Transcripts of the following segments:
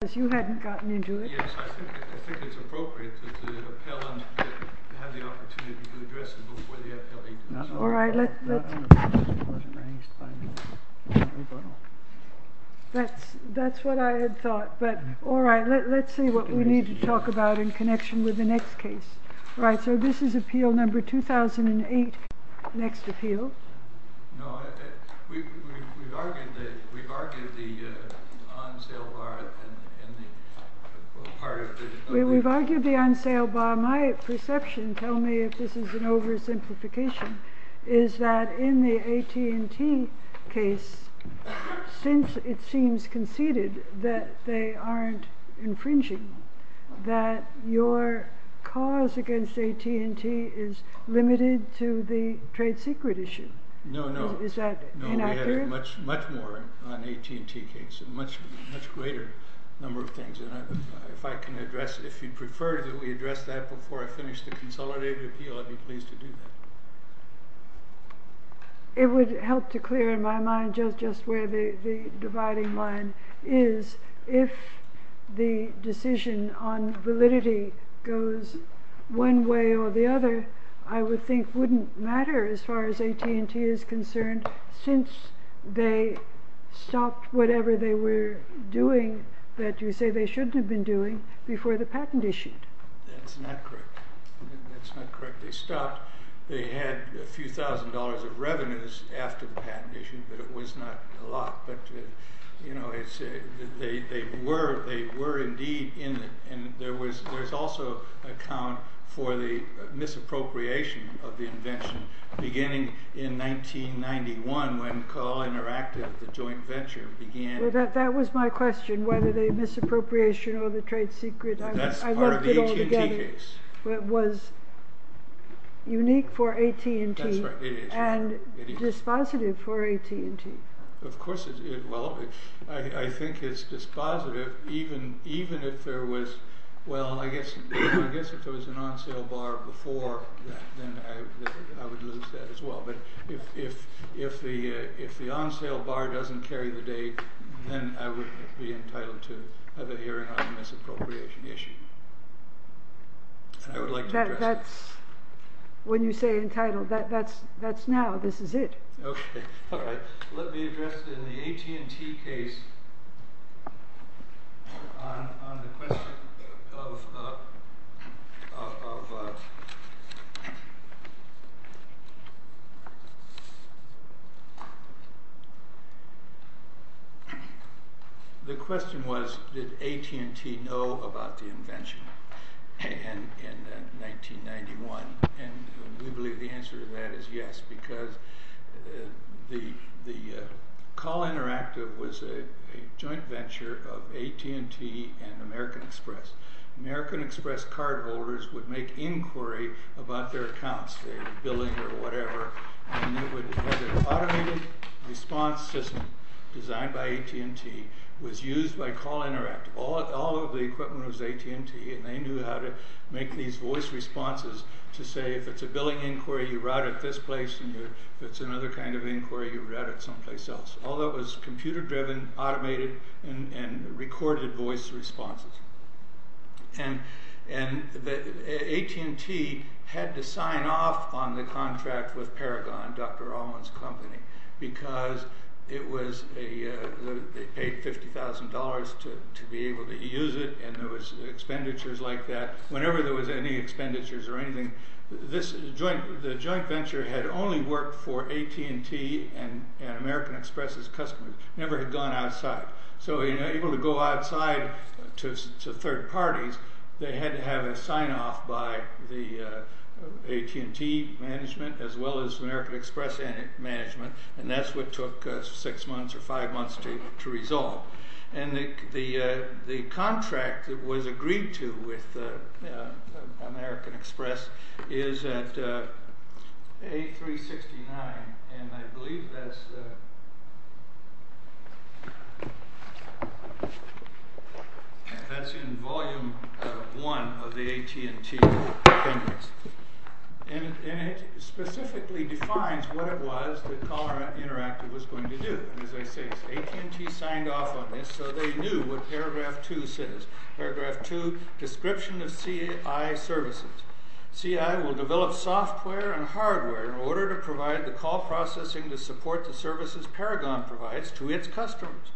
Yes, I think it's appropriate for the appellant to have the opportunity to address it before the appellee does. All right, let's see what we need to talk about in connection with the next case. Right, so this is appeal number 2008, next appeal. No, we've argued the on-sale bar in the part of the... We've argued the on-sale bar. My perception, tell me if this is an oversimplification, is that in the AT&T case, since it seems conceded that they aren't infringing, that your cause against AT&T is limited to the trade secret issue. No, no. Is that inaccurate? We had much more on the AT&T case, a much greater number of things, and if I can address, if you prefer that we address that before I finish the consolidated appeal, I'd be pleased to do that. It would help to clear my mind just where the dividing line is. If the decision on validity goes one way or the other, I would think it wouldn't matter as far as AT&T is concerned, since they stopped whatever they were doing that you say they shouldn't have been doing before the patent issue. That's not correct. That's not correct. They stopped. They had a few thousand dollars of revenues after the patent issue, but it was not a lot. But, you know, they were indeed in it. And there was also an account for the misappropriation of the invention beginning in 1991 when Carl Interactive, the joint venture, began... That was my question, whether the misappropriation or the trade secret. That's part of the AT&T case. It was unique for AT&T and dispositive for AT&T. Well, I think it's dispositive, even if there was, well, I guess if there was an on-sale bar before that, then I would lose that as well. But if the on-sale bar doesn't carry the date, then I would be entitled to have a hearing on the misappropriation issue. I would like to address that. When you say entitled, that's now. This is it. Okay. All right. Let me address it in the AT&T case on the question of... The question was, did AT&T know about the invention in 1991? And we believe the answer to that is yes, because the Carl Interactive was a joint venture of AT&T and American Express. American Express cardholders would make inquiry about their accounts, their billing or whatever. Automated response system designed by AT&T was used by Carl Interactive. All of the equipment was AT&T, and they knew how to make these voice responses to say, if it's a billing inquiry, you route it this place, and if it's another kind of inquiry, you route it someplace else. All that was computer-driven, automated, and recorded voice responses. AT&T had to sign off on the contract with Paragon, Dr. Owen's company, because they paid $50,000 to be able to use it, and there was expenditures like that. Whenever there was any expenditures or anything, the joint venture had only worked for AT&T and American Express' customers. So they were able to go outside to third parties. They had to have a sign-off by the AT&T management as well as American Express management, and that's what took six months or five months to resolve. The contract that was agreed to with American Express is at A369, and I believe that's in Volume 1 of the AT&T agreements. It specifically defines what it was that Caller Interactive was going to do. As I say, AT&T signed off on this, so they knew what Paragraph 2 says. Paragraph 2, description of CI services. CI will develop software and hardware in order to provide the call processing to support the services Paragon provides to its customers.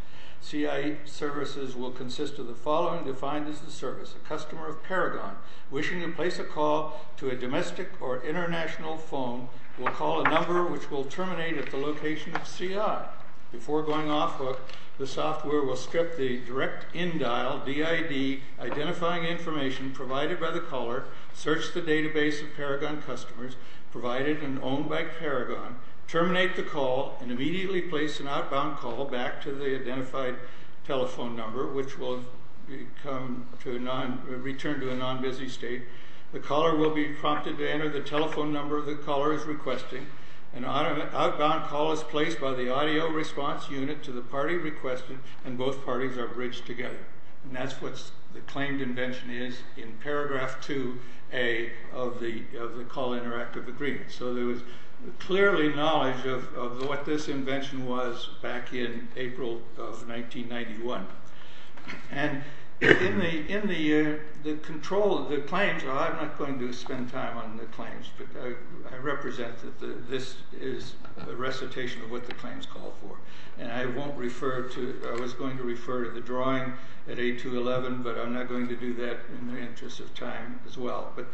CI services will consist of the following defined as the service. A customer of Paragon wishing to place a call to a domestic or international phone will call a number which will terminate at the location of CI. Before going off hook, the software will strip the direct in-dial, DID, identifying information provided by the caller, search the database of Paragon customers provided and owned by Paragon, terminate the call, and immediately place an outbound call back to the identified telephone number, which will return to a non-busy state. The caller will be prompted to enter the telephone number the caller is requesting. An outbound call is placed by the audio response unit to the party requested, and both parties are bridged together. And that's what the claimed invention is in Paragraph 2A of the Call Interactive Agreement. So there was clearly knowledge of what this invention was back in April of 1991. And in the control of the claims, well I'm not going to spend time on the claims, but I represent that this is a recitation of what the claims call for. And I was going to refer to the drawing at 8211, but I'm not going to do that in the interest of time as well. But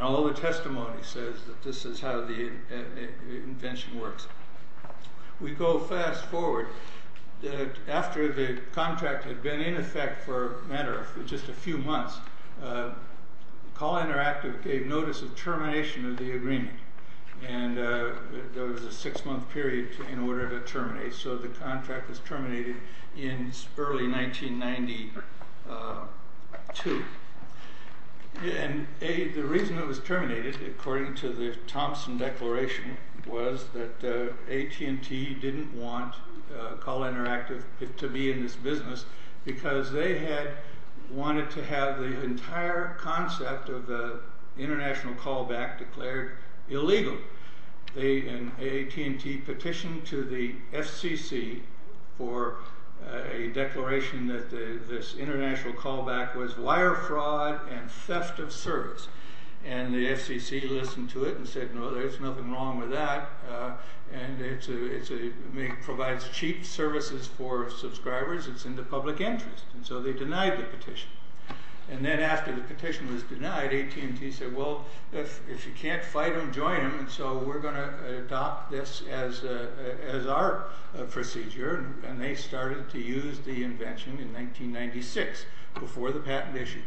all the testimony says that this is how the invention works. We go fast forward. After the contract had been in effect for a matter of just a few months, Call Interactive gave notice of termination of the agreement. And there was a six-month period in order to terminate. So the contract was terminated in early 1992. And the reason it was terminated, according to the Thompson Declaration, was that AT&T didn't want Call Interactive to be in this business because they had wanted to have the entire concept of the international callback declared illegal. And AT&T petitioned to the FCC for a declaration that this international callback was wire fraud and theft of service. And the FCC listened to it and said, no, there's nothing wrong with that. It provides cheap services for subscribers. It's in the public interest. And so they denied the petition. And then after the petition was denied, AT&T said, well, if you can't fight them, join them. And so we're going to adopt this as our procedure. And they started to use the invention in 1996, before the patent issue.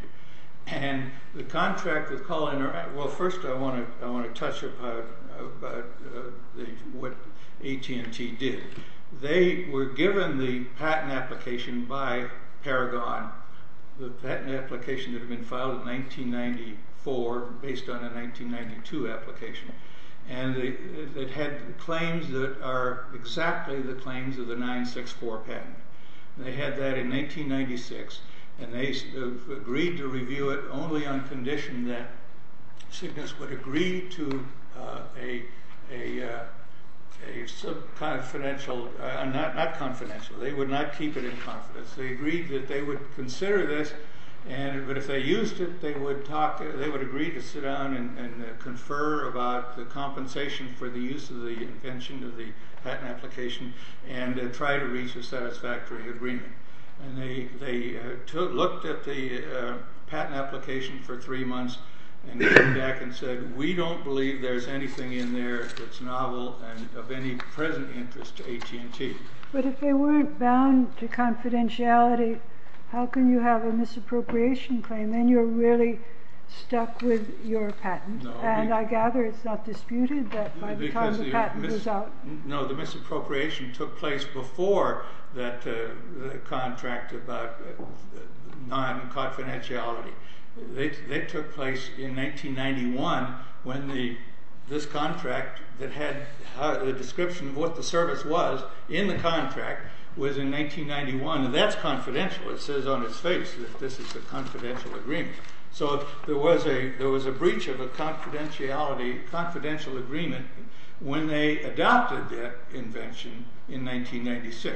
And the contract with Call Interactive, well, first I want to touch upon what AT&T did. They were given the patent application by Paragon, the patent application that had been filed in 1994 based on a 1992 application. And it had claims that are exactly the claims of the 964 patent. They had that in 1996. And they agreed to review it only on condition that Cygnus would agree to a confidential, not confidential, they would not keep it in confidence. They agreed that they would consider this, but if they used it, they would agree to sit down and confer about the compensation for the use of the invention of the patent application and try to reach a satisfactory agreement. And they looked at the patent application for three months and came back and said, we don't believe there's anything in there that's novel and of any present interest to AT&T. But if they weren't bound to confidentiality, how can you have a misappropriation claim and you're really stuck with your patent? And I gather it's not disputed that by the time the patent goes out... No, the misappropriation took place before that contract about non-confidentiality. They took place in 1991 when this contract that had the description of what the service was in the contract was in 1991, and that's confidential. It says on its face that this is a confidential agreement. So there was a breach of a confidential agreement when they adopted that invention in 1996.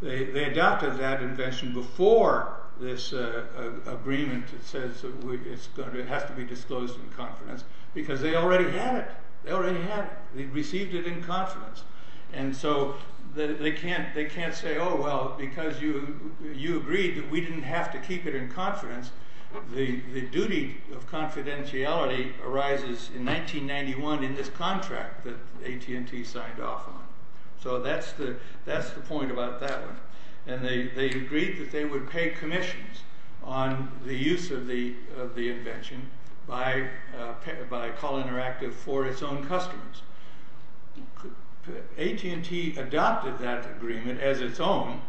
They adopted that invention before this agreement that says it has to be disclosed in confidence because they already had it. They received it in confidence. And so they can't say, oh well, because you agreed that we didn't have to keep it in confidence, the duty of confidentiality arises in 1991 in this contract that AT&T signed off on. So that's the point about that one. And they agreed that they would pay commissions on the use of the invention by Call Interactive for its own customers. AT&T adopted that agreement as its own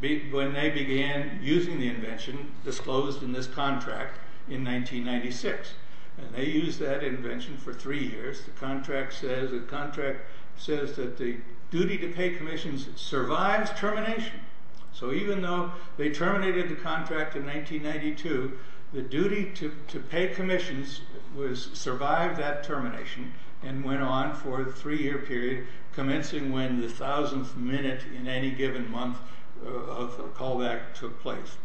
when they began using the invention disclosed in this contract in 1996. And they used that invention for three years. The contract says that the duty to pay commissions survives termination. So even though they terminated the contract in 1992, the duty to pay commissions survived that termination and went on for the three year period commencing when the thousandth minute in any given month of the callback took place.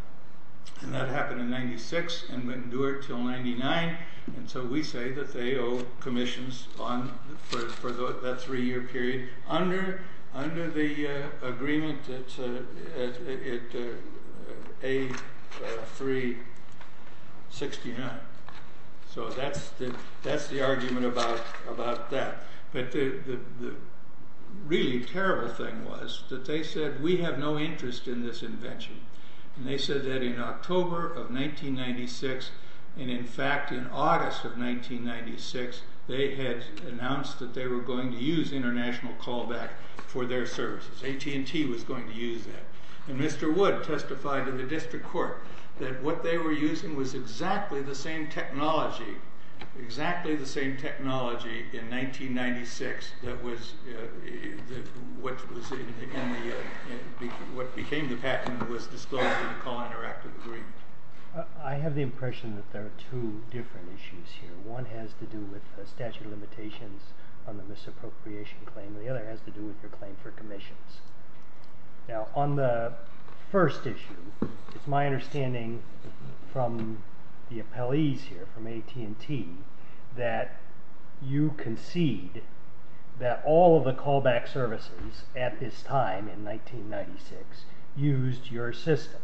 And that happened in 1996 and went and endured until 1999. And so we say that they owe commissions for that three year period under the agreement that's A369. So that's the argument about that. But the really terrible thing was that they said we have no interest in this invention. And they said that in October of 1996, and in fact in August of 1996, they had announced that they were going to use international callback for their services. AT&T was going to use that. And Mr. Wood testified in the district court that what they were using was exactly the same technology, exactly the same technology in 1996 that was what became the patent was disclosed in the call interactive agreement. I have the impression that there are two different issues here. One has to do with statute of limitations on the misappropriation claim. The other has to do with your claim for commissions. Now on the first issue, it's my understanding from the appellees here, from AT&T, that you concede that all of the callback services at this time in 1996 used your system.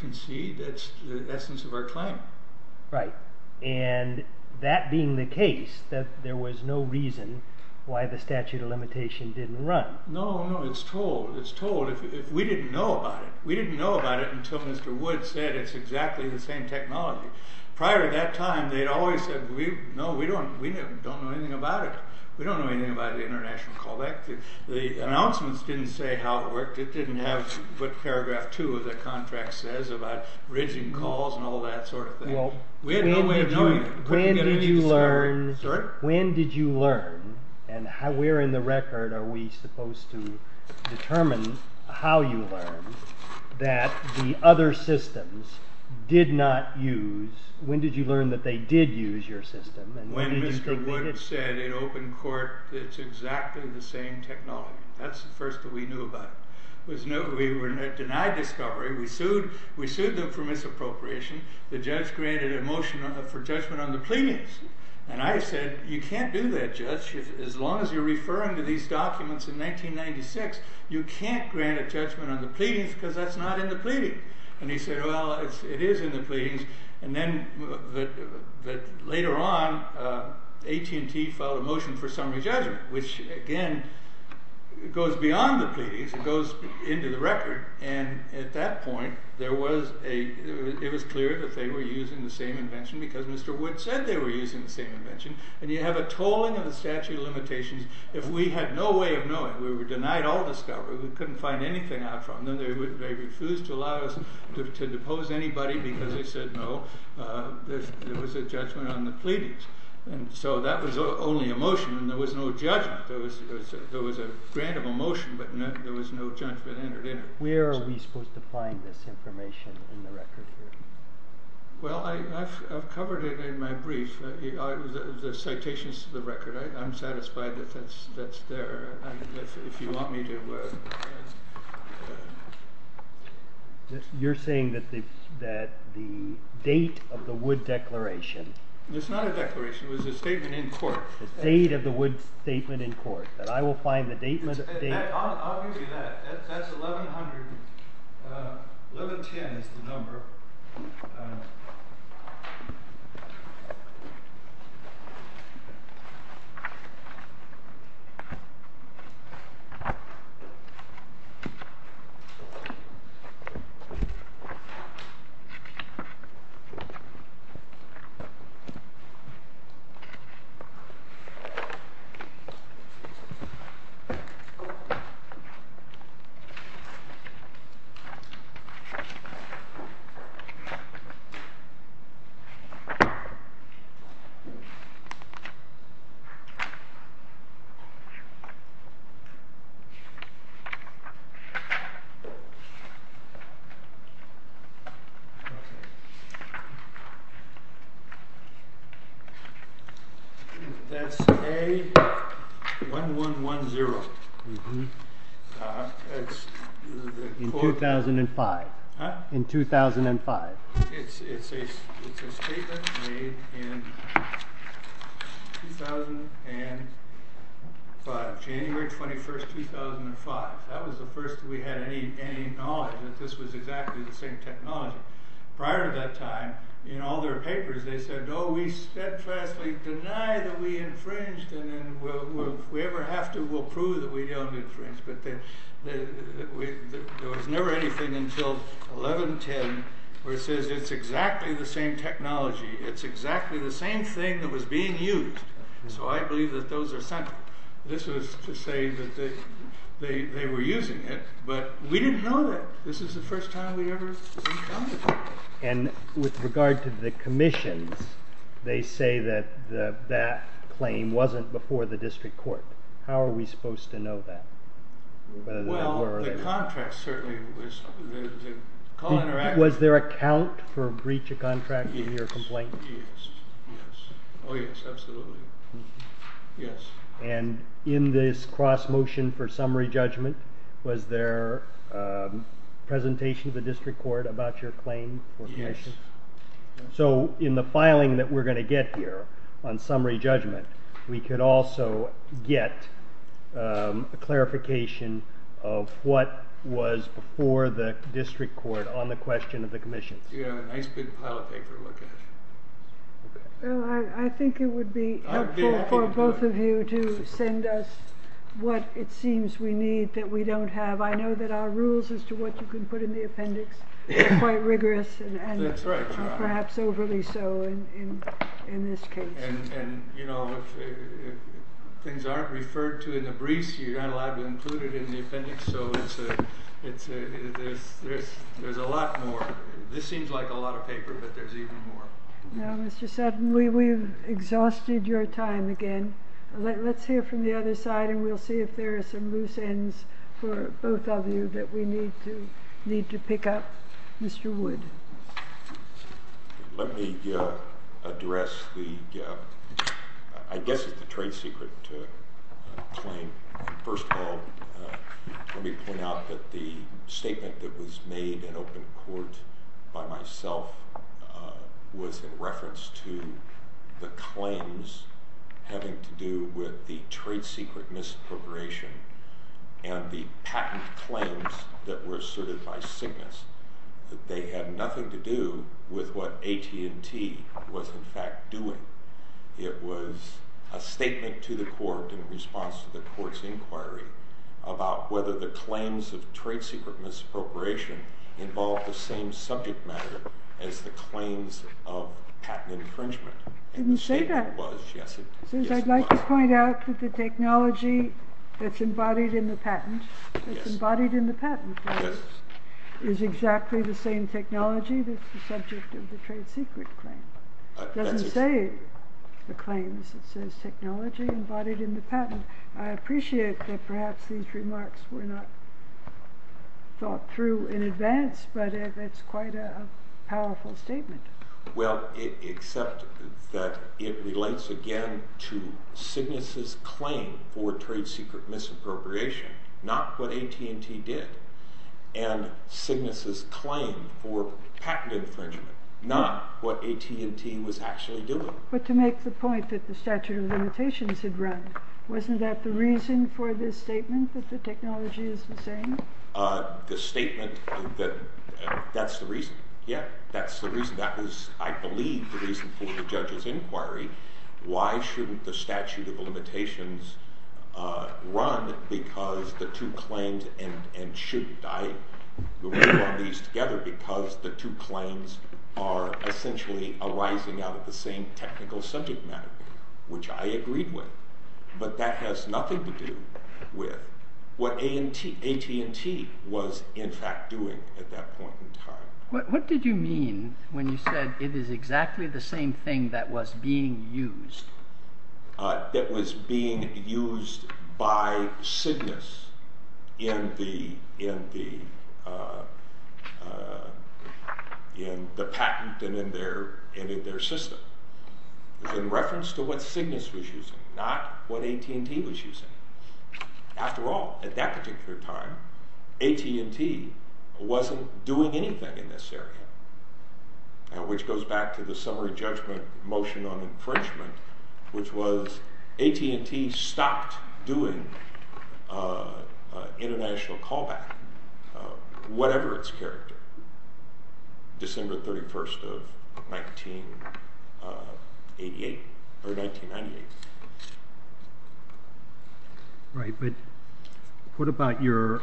Concede? That's the essence of our claim. Right. And that being the case, that there was no reason why the statute of limitation didn't run. No, no, it's told. It's told. We didn't know about it. We didn't know about it until Mr. Wood said it's exactly the same technology. Prior to that time, they'd always said, no, we don't know anything about it. We don't know anything about the international callback. The announcements didn't say how it worked. It didn't have what paragraph two of the contract says about bridging calls and all that sort of thing. We had no way of knowing it. When did you learn, and where in the record are we supposed to determine how you learned, that the other systems did not use, when did you learn that they did use your system? When Mr. Wood said in open court that it's exactly the same technology. That's the first that we knew about it. We were denied discovery. We sued them for misappropriation. The judge granted a motion for judgment on the pleadings. I said, you can't do that, Judge. As long as you're referring to these documents in 1996, you can't grant a judgment on the pleadings because that's not in the pleading. He said, well, it is in the pleadings. Then later on, AT&T filed a motion for summary judgment, which, again, goes beyond the pleadings. It goes into the record. At that point, it was clear that they were using the same invention because Mr. Wood said they were using the same invention. You have a tolling of the statute of limitations. If we had no way of knowing, we were denied all discovery. We couldn't find anything out from them. They refused to allow us to depose anybody because they said no. There was a judgment on the pleadings. That was only a motion. There was no judgment. There was a grant of a motion, but there was no judgment entered in. Where are we supposed to find this information in the record here? Well, I've covered it in my brief, the citations to the record. I'm satisfied that that's there if you want me to. You're saying that the date of the Wood declaration. It's not a declaration. It was a statement in court. The date of the Wood statement in court, that I will find the date. I'll give you that. That's 1110 is the number. That's K1110. In 2005. It's a statement made in January 21st, 2005. That was the first we had any knowledge that this was exactly the same technology. Prior to that time, in all their papers, they said, Oh, we steadfastly deny that we infringed. If we ever have to, we'll prove that we don't infringe. There was never anything until 1110 where it says it's exactly the same technology. It's exactly the same thing that was being used. So I believe that those are central. This was to say that they were using it, but we didn't know that. This is the first time we ever encountered that. And with regard to the commissions, they say that that claim wasn't before the district court. How are we supposed to know that? Well, the contract certainly was. Was there a count for breach of contract in your complaint? Yes. Yes. Oh, yes. Absolutely. Yes. And in this cross motion for summary judgment, was there a presentation to the district court about your claim? Yes. So in the filing that we're going to get here on summary judgment, we could also get a clarification of what was before the district court on the question of the commission. You have a nice big pile of paper to look at. Well, I think it would be helpful for both of you to send us what it seems we need that we don't have. I know that our rules as to what you can put in the appendix are quite rigorous and perhaps overly so in this case. And, you know, if things aren't referred to in the briefs, you're not allowed to include it in the appendix. So there's a lot more. This seems like a lot of paper, but there's even more. Now, Mr. Sutton, we've exhausted your time again. Let's hear from the other side, and we'll see if there are some loose ends for both of you that we need to pick up. Mr. Wood. Let me address the, I guess it's the trade secret claim. First of all, let me point out that the statement that was made in open court by myself was in reference to the claims having to do with the trade secret misappropriation and the patent claims that were asserted by Cygnus. They had nothing to do with what AT&T was in fact doing. It was a statement to the court in response to the court's inquiry about whether the claims of trade secret misappropriation involved the same subject matter as the claims of patent infringement. I didn't say that. I'd like to point out that the technology that's embodied in the patent is exactly the same technology that's the subject of the trade secret claim. It doesn't say the claims. It says technology embodied in the patent. I appreciate that perhaps these remarks were not thought through in advance, but it's quite a powerful statement. Well, except that it relates again to Cygnus' claim for trade secret misappropriation, not what AT&T did, and Cygnus' claim for patent infringement, not what AT&T was actually doing. But to make the point that the statute of limitations had run, wasn't that the reason for this statement that the technology is the same? The statement that that's the reason. Yeah, that's the reason. That was, I believe, the reason for the judge's inquiry. Why shouldn't the statute of limitations run because the two claims, and shouldn't I move on these together because the two claims are essentially arising out of the same technical subject matter, which I agreed with. But that has nothing to do with what AT&T was in fact doing at that point in time. What did you mean when you said it is exactly the same thing that was being used? That was being used by Cygnus in the patent and in their system in reference to what Cygnus was using, not what AT&T was using. After all, at that particular time, AT&T wasn't doing anything in this area, which goes back to the summary judgment motion on infringement, which was AT&T stopped doing international callback, whatever its character, December 31st of 1998. Right, but what about your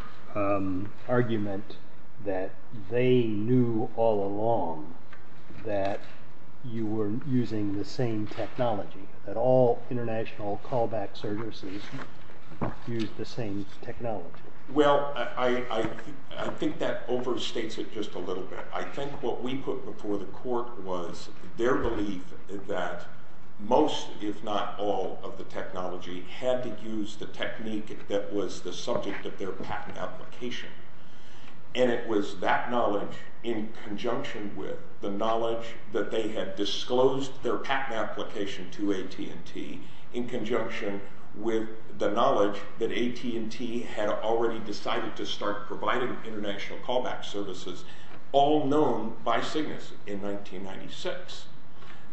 argument that they knew all along that you were using the same technology, that all international callback services use the same technology? Well, I think that overstates it just a little bit. I think what we put before the court was their belief that most, if not all, of the technology had to use the technique that was the subject of their patent application. And it was that knowledge in conjunction with the knowledge that they had disclosed their patent application to AT&T in conjunction with the knowledge that AT&T had already decided to start providing international callback services, all known by Cygnus in 1996,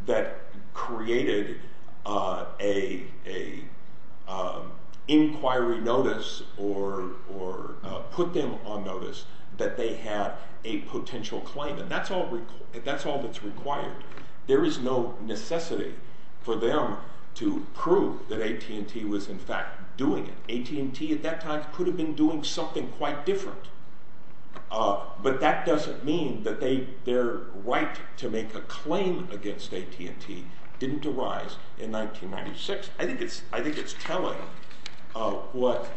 that created an inquiry notice or put them on notice that they had a potential claim. And that's all that's required. There is no necessity for them to prove that AT&T was in fact doing it. AT&T at that time could have been doing something quite different. But that doesn't mean that their right to make a claim against AT&T didn't arise in 1996. I think it's telling what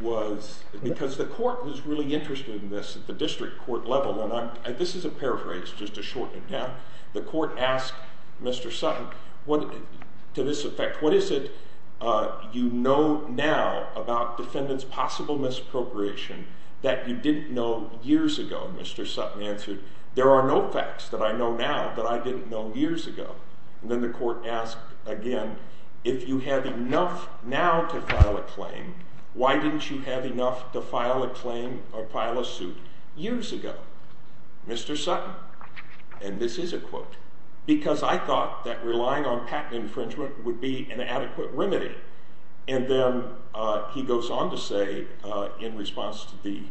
was... Because the court was really interested in this at the district court level, and this is a paraphrase, just to shorten it down. The court asked Mr. Sutton, to this effect, what is it you know now about defendant's possible misappropriation that you didn't know years ago? Mr. Sutton answered, there are no facts that I know now that I didn't know years ago. And then the court asked again, if you have enough now to file a claim, why didn't you have enough to file a claim or file a suit years ago? Mr. Sutton, and this is a quote, because I thought that relying on patent infringement would be an adequate remedy. And then he goes on to say, in response to the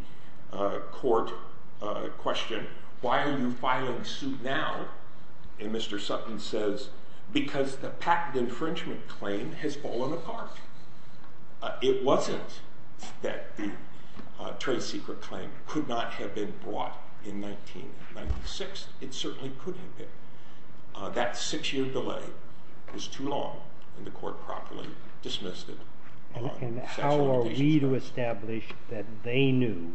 court question, why are you filing a suit now? And Mr. Sutton says, because the patent infringement claim has fallen apart. It wasn't that the trade secret claim could not have been brought in 1996. It certainly could have been. That six-year delay was too long, and the court properly dismissed it. And how are we to establish that they knew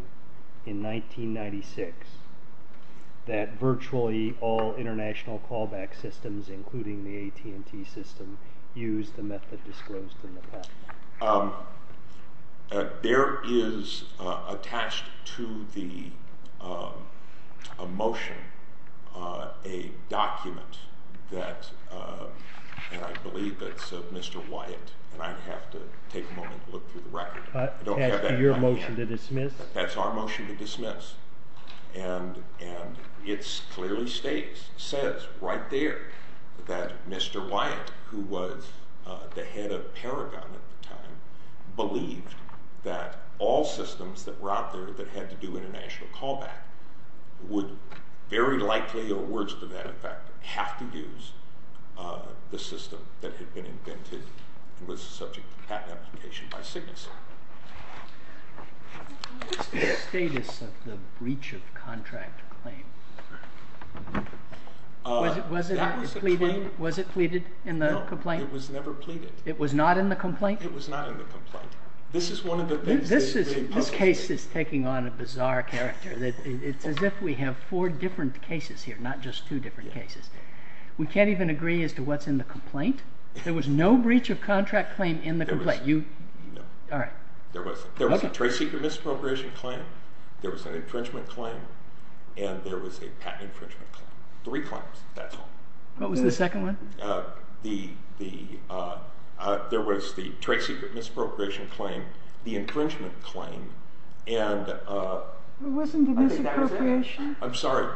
in 1996 that virtually all international callback systems, including the AT&T system, used the method disclosed in the patent? There is attached to the motion a document that, and I believe that's of Mr. Wyatt, and I'd have to take a moment to look through the record. Your motion to dismiss? That's our motion to dismiss. And it clearly says right there that Mr. Wyatt, who was the head of Paragon at the time, believed that all systems that were out there that had to do international callback would very likely, or words to that effect, have to use the system that had been invented and was the subject of patent application by Cygnus. What is the status of the breach of contract claim? Was it pleaded in the complaint? No, it was never pleaded. It was not in the complaint? It was not in the complaint. This is one of the things that is very puzzling. This case is taking on a bizarre character. It's as if we have four different cases here, not just two different cases. We can't even agree as to what's in the complaint? There was no breach of contract claim in the complaint? No. There was a trade secret misappropriation claim, there was an infringement claim, and there was a patent infringement claim. Three claims, that's all. What was the second one? There was the trade secret misappropriation claim, the infringement claim, and... Wasn't the misappropriation? I'm sorry?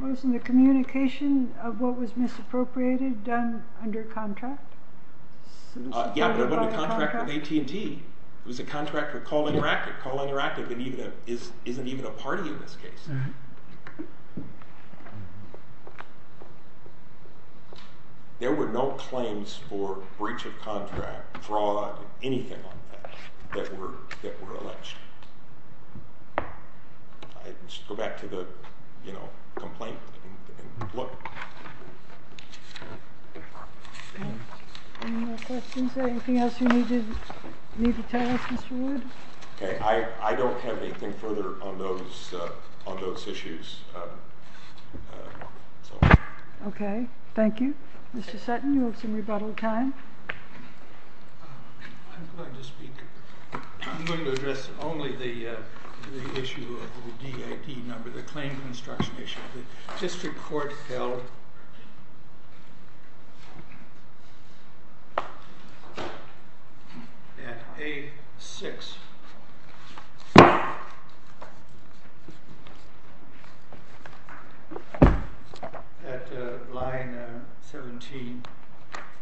Wasn't the communication of what was misappropriated done under contract? Yeah, but it wasn't a contract with AT&T. It was a contract with Call Interactive. Call Interactive isn't even a party in this case. There were no claims for breach of contract, fraud, anything like that, that were alleged. Let's go back to the complaint and look. Any more questions? Anything else you need to tell us, Mr. Wood? I don't have anything further on those issues. Okay. Thank you. Mr. Sutton, you have some rebuttal time. I'm going to speak. I'm going to address only the issue of the DIT number, the claim construction issue. The district court held at A6, at line 17.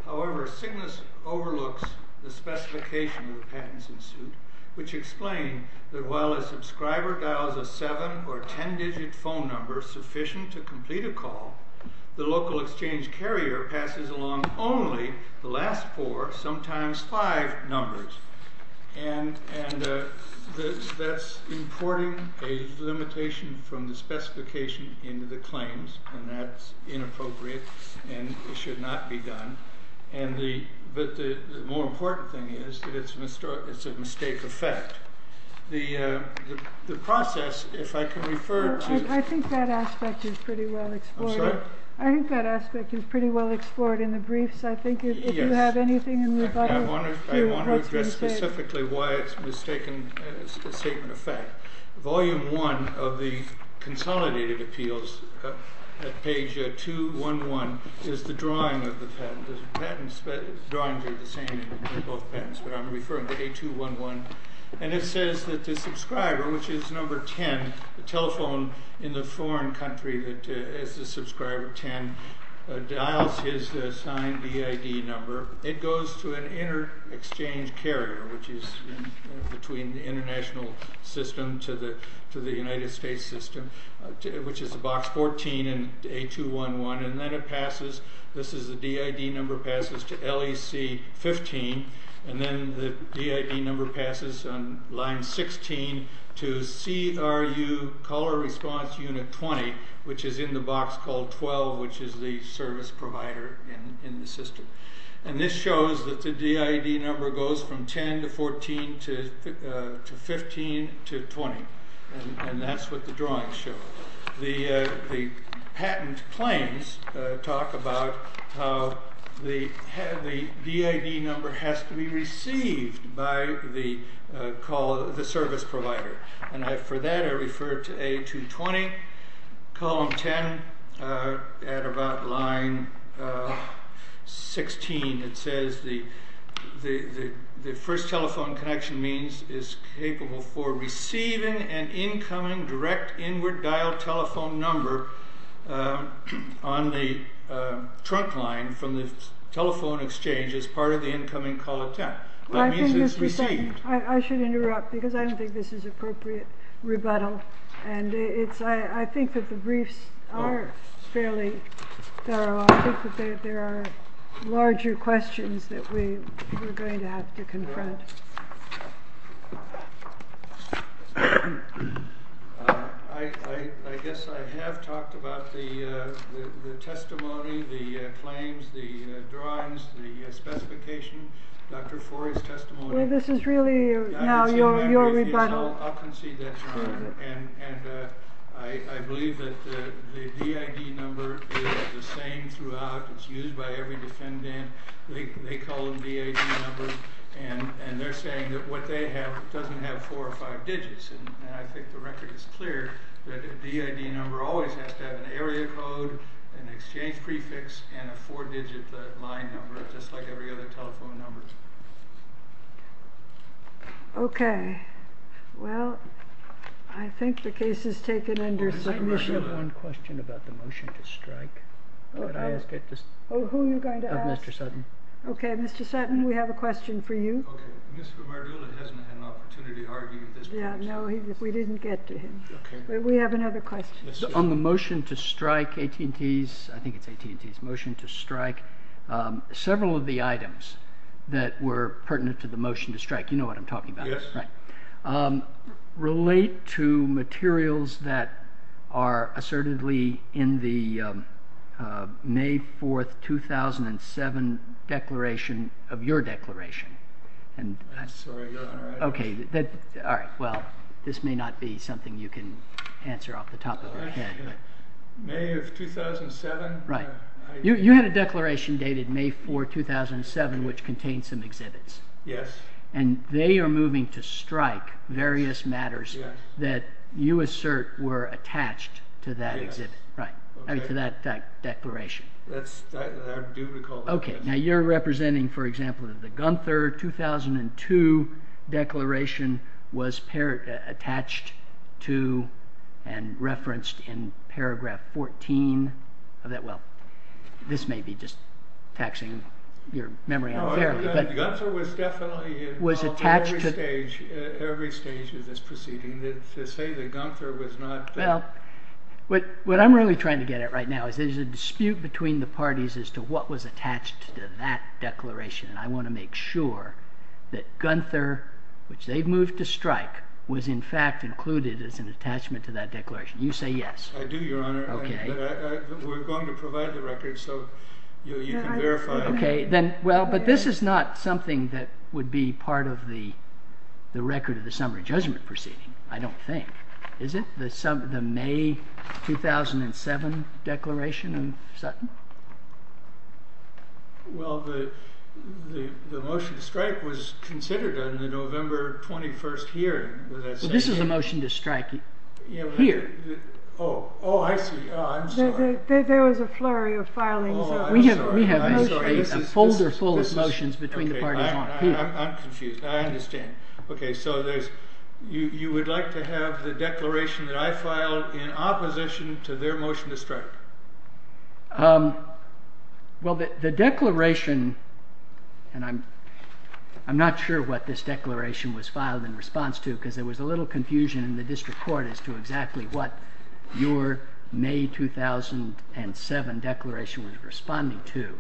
However, CYGNSS overlooks the specification of the patents in suit, which explain that while a subscriber dials a seven- or ten-digit phone number sufficient to complete a call, the local exchange carrier passes along only the last four, sometimes five, numbers. And that's importing a limitation from the specification into the claims, and that's inappropriate and should not be done. But the more important thing is that it's a mistake of fact. The process, if I can refer to you. I think that aspect is pretty well explored. I'm sorry? I think that aspect is pretty well explored in the briefs. I think if you have anything in rebuttal. I want to address specifically why it's a statement of fact. Volume 1 of the Consolidated Appeals, at page 211, is the drawing of the patent. The drawings are the same in both patents, but I'm referring to page 211. And it says that the subscriber, which is number 10, the telephone in the foreign country that is the subscriber 10, dials his signed DID number. It goes to an inter-exchange carrier, which is between the international system to the United States system, which is box 14 and A211, and then it passes. This is the DID number passes to LEC 15, and then the DID number passes on line 16 to CRU Caller Response Unit 20, which is in the box called 12, which is the service provider in the system. And this shows that the DID number goes from 10 to 14 to 15 to 20. And that's what the drawings show. The patent claims talk about how the DID number has to be received by the service provider. And for that I refer to A220, column 10, at about line 16. It says the first telephone connection means is capable for receiving an incoming direct inward dial telephone number on the trunk line from the telephone exchange as part of the incoming call attempt. That means it's received. I should interrupt because I don't think this is appropriate rebuttal. I think that the briefs are fairly thorough. I think that there are larger questions that we're going to have to confront. I guess I have talked about the testimony, the claims, the drawings, the specification, Dr. Forry's testimony. Well, this is really now your rebuttal. I'll concede that's wrong. And I believe that the DID number is the same throughout. It's used by every defendant. They call them DID numbers. And they're saying that what they have doesn't have four or five digits. And I think the record is clear that a DID number always has to have an area code, an exchange prefix, and a four-digit line number, just like every other telephone number. Okay. Well, I think the case is taken under signature. I have one question about the motion to strike. Who are you going to ask? Mr. Sutton. Okay, Mr. Sutton, we have a question for you. Mr. Mardula hasn't had an opportunity to argue at this point. No, we didn't get to him. We have another question. On the motion to strike, AT&T's, I think it's AT&T's motion to strike, several of the items that were pertinent to the motion to strike, you know what I'm talking about. Yes. Right. Relate to materials that are assertedly in the May 4th, 2007, declaration of your declaration. I'm sorry. Okay. All right. Well, this may not be something you can answer off the top of your head. May of 2007? Right. You had a declaration dated May 4, 2007, which contained some exhibits. Yes. And they are moving to strike various matters that you assert were attached to that exhibit. Right. To that declaration. I do recall that. Okay. Now, you're representing, for example, the Gunther 2002 declaration was This may be just taxing your memory unfairly. Gunther was definitely involved at every stage of this proceeding. To say that Gunther was not. Well, what I'm really trying to get at right now is there's a dispute between the parties as to what was attached to that declaration, and I want to make sure that Gunther, which they moved to strike, was in fact included as an attachment to that declaration. You say yes. I do, Your Honor. Okay. We're going to provide the record so you can verify. Okay. But this is not something that would be part of the record of the summary judgment proceeding, I don't think. Is it? The May 2007 declaration of Sutton? Well, the motion to strike was considered in the November 21st hearing. This is the motion to strike here. Oh, I see. I'm sorry. There was a flurry of filings. We have a folder full of motions between the parties. I'm confused. I understand. Okay. So you would like to have the declaration that I filed in opposition to their motion to strike? Well, the declaration, and I'm not sure what this declaration was filed in response to because there was a little confusion in the district court as to exactly what your May 2007 declaration was responding to.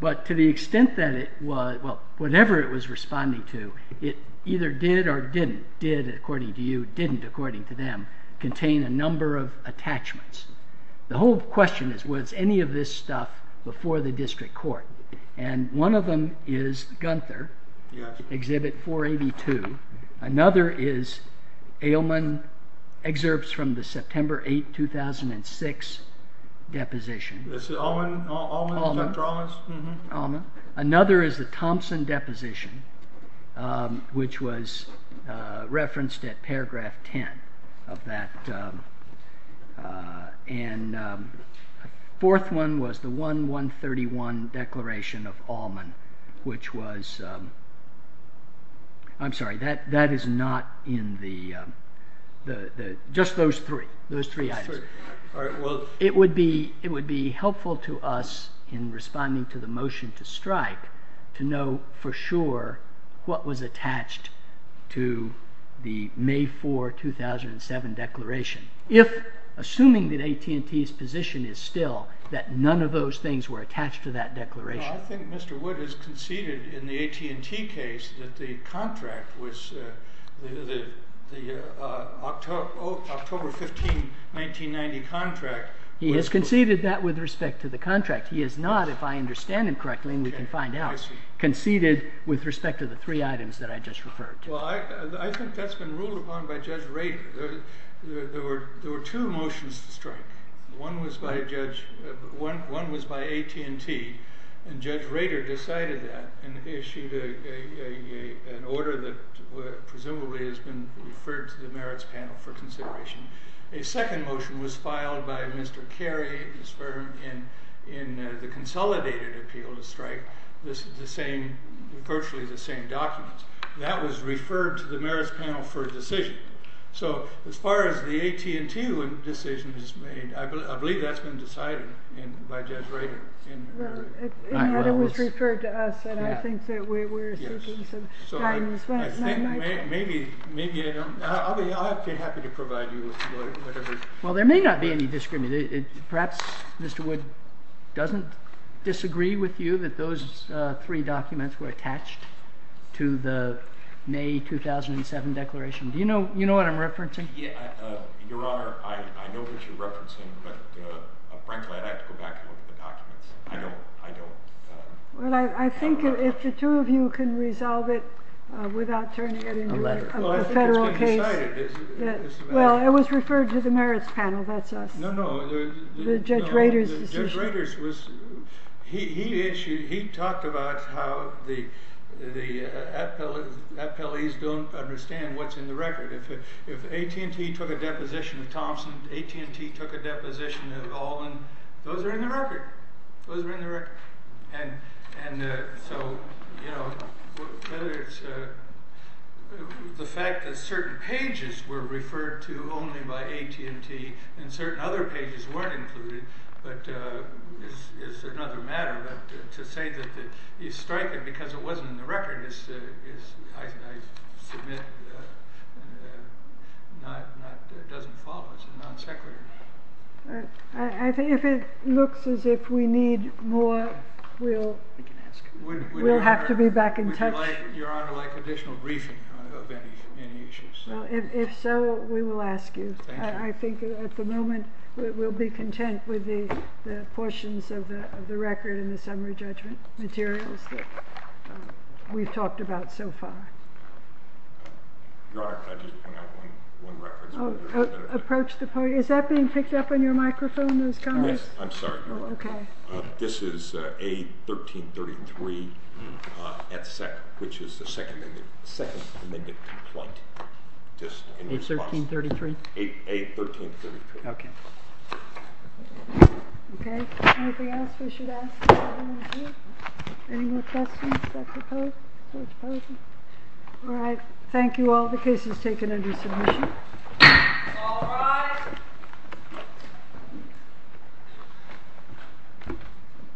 But to the extent that it was, well, whatever it was responding to, it either did or didn't. Did, according to you, didn't, according to them, contain a number of attachments. The whole question is, was any of this stuff before the district court? And one of them is Gunther, Exhibit 482. Another is Ailman Excerpts from the September 8, 2006 deposition. That's the Ailman? Ailman. Dr. Ailman's? Mm-hmm. Ailman. Another is the Thompson deposition, which was referenced at paragraph 10 of that. And the fourth one was the 1131 declaration of Ailman, which was, I'm sorry, that is not in the, just those three, those three items. All right, well. It would be helpful to us in responding to the motion to strike to know for sure what was attached to the May 4, 2007 declaration. If, assuming that AT&T's position is still that none of those things were attached to that declaration. Well, I think Mr. Wood has conceded in the AT&T case that the contract was the October 15, 1990 contract. He has conceded that with respect to the contract. He has not, if I understand him correctly and we can find out, conceded with respect to the three items that I just referred to. Well, I think that's been ruled upon by Judge Rader. There were two motions to strike. One was by AT&T. And Judge Rader decided that and issued an order that presumably has been referred to the merits panel for consideration. A second motion was filed by Mr. Carey, his firm, in the consolidated appeal to strike. This is the same, virtually the same documents. That was referred to the merits panel for a decision. So as far as the AT&T decision is made, I believe that's been decided by Judge Rader. Well, it was referred to us, and I think that we're seeking some time as well. Maybe, I'll be happy to provide you with whatever... Well, there may not be any disagreement. Perhaps Mr. Wood doesn't disagree with you that those three documents were attached to the May 2007 declaration. Do you know what I'm referencing? Your Honor, I know what you're referencing, but frankly, I'd have to go back and look at the documents. I don't. Well, I think if the two of you can resolve it without turning it into a federal case... Well, I think it's been decided. Well, it was referred to the merits panel. That's us. No, no. The Judge Rader's decision. Judge Rader's was... He talked about how the appellees don't understand what's in the record. If AT&T took a deposition of Thompson, AT&T took a deposition of Allman, those are in the record. Those are in the record. And so, you know, whether it's the fact that certain pages were referred to only by AT&T and certain other pages weren't included, but it's another matter. But to say that you strike it because it wasn't in the record I submit doesn't follow. It's a non sequitur. If it looks as if we need more, we'll have to be back in touch. Would Your Honor like additional briefing of any issues? If so, we will ask you. I think at the moment we'll be content with the portions of the record and the summary judgment materials that we've talked about so far. Your Honor, can I just point out one record? Approach the podium. Is that being picked up on your microphone, those comments? Yes, I'm sorry, Your Honor. This is A1333, which is the second amendment complaint. A1333? A1333. Okay. Okay. Anything else we should ask? Any more questions at the podium? All right. Thank you all. The case is taken under submission. All rise.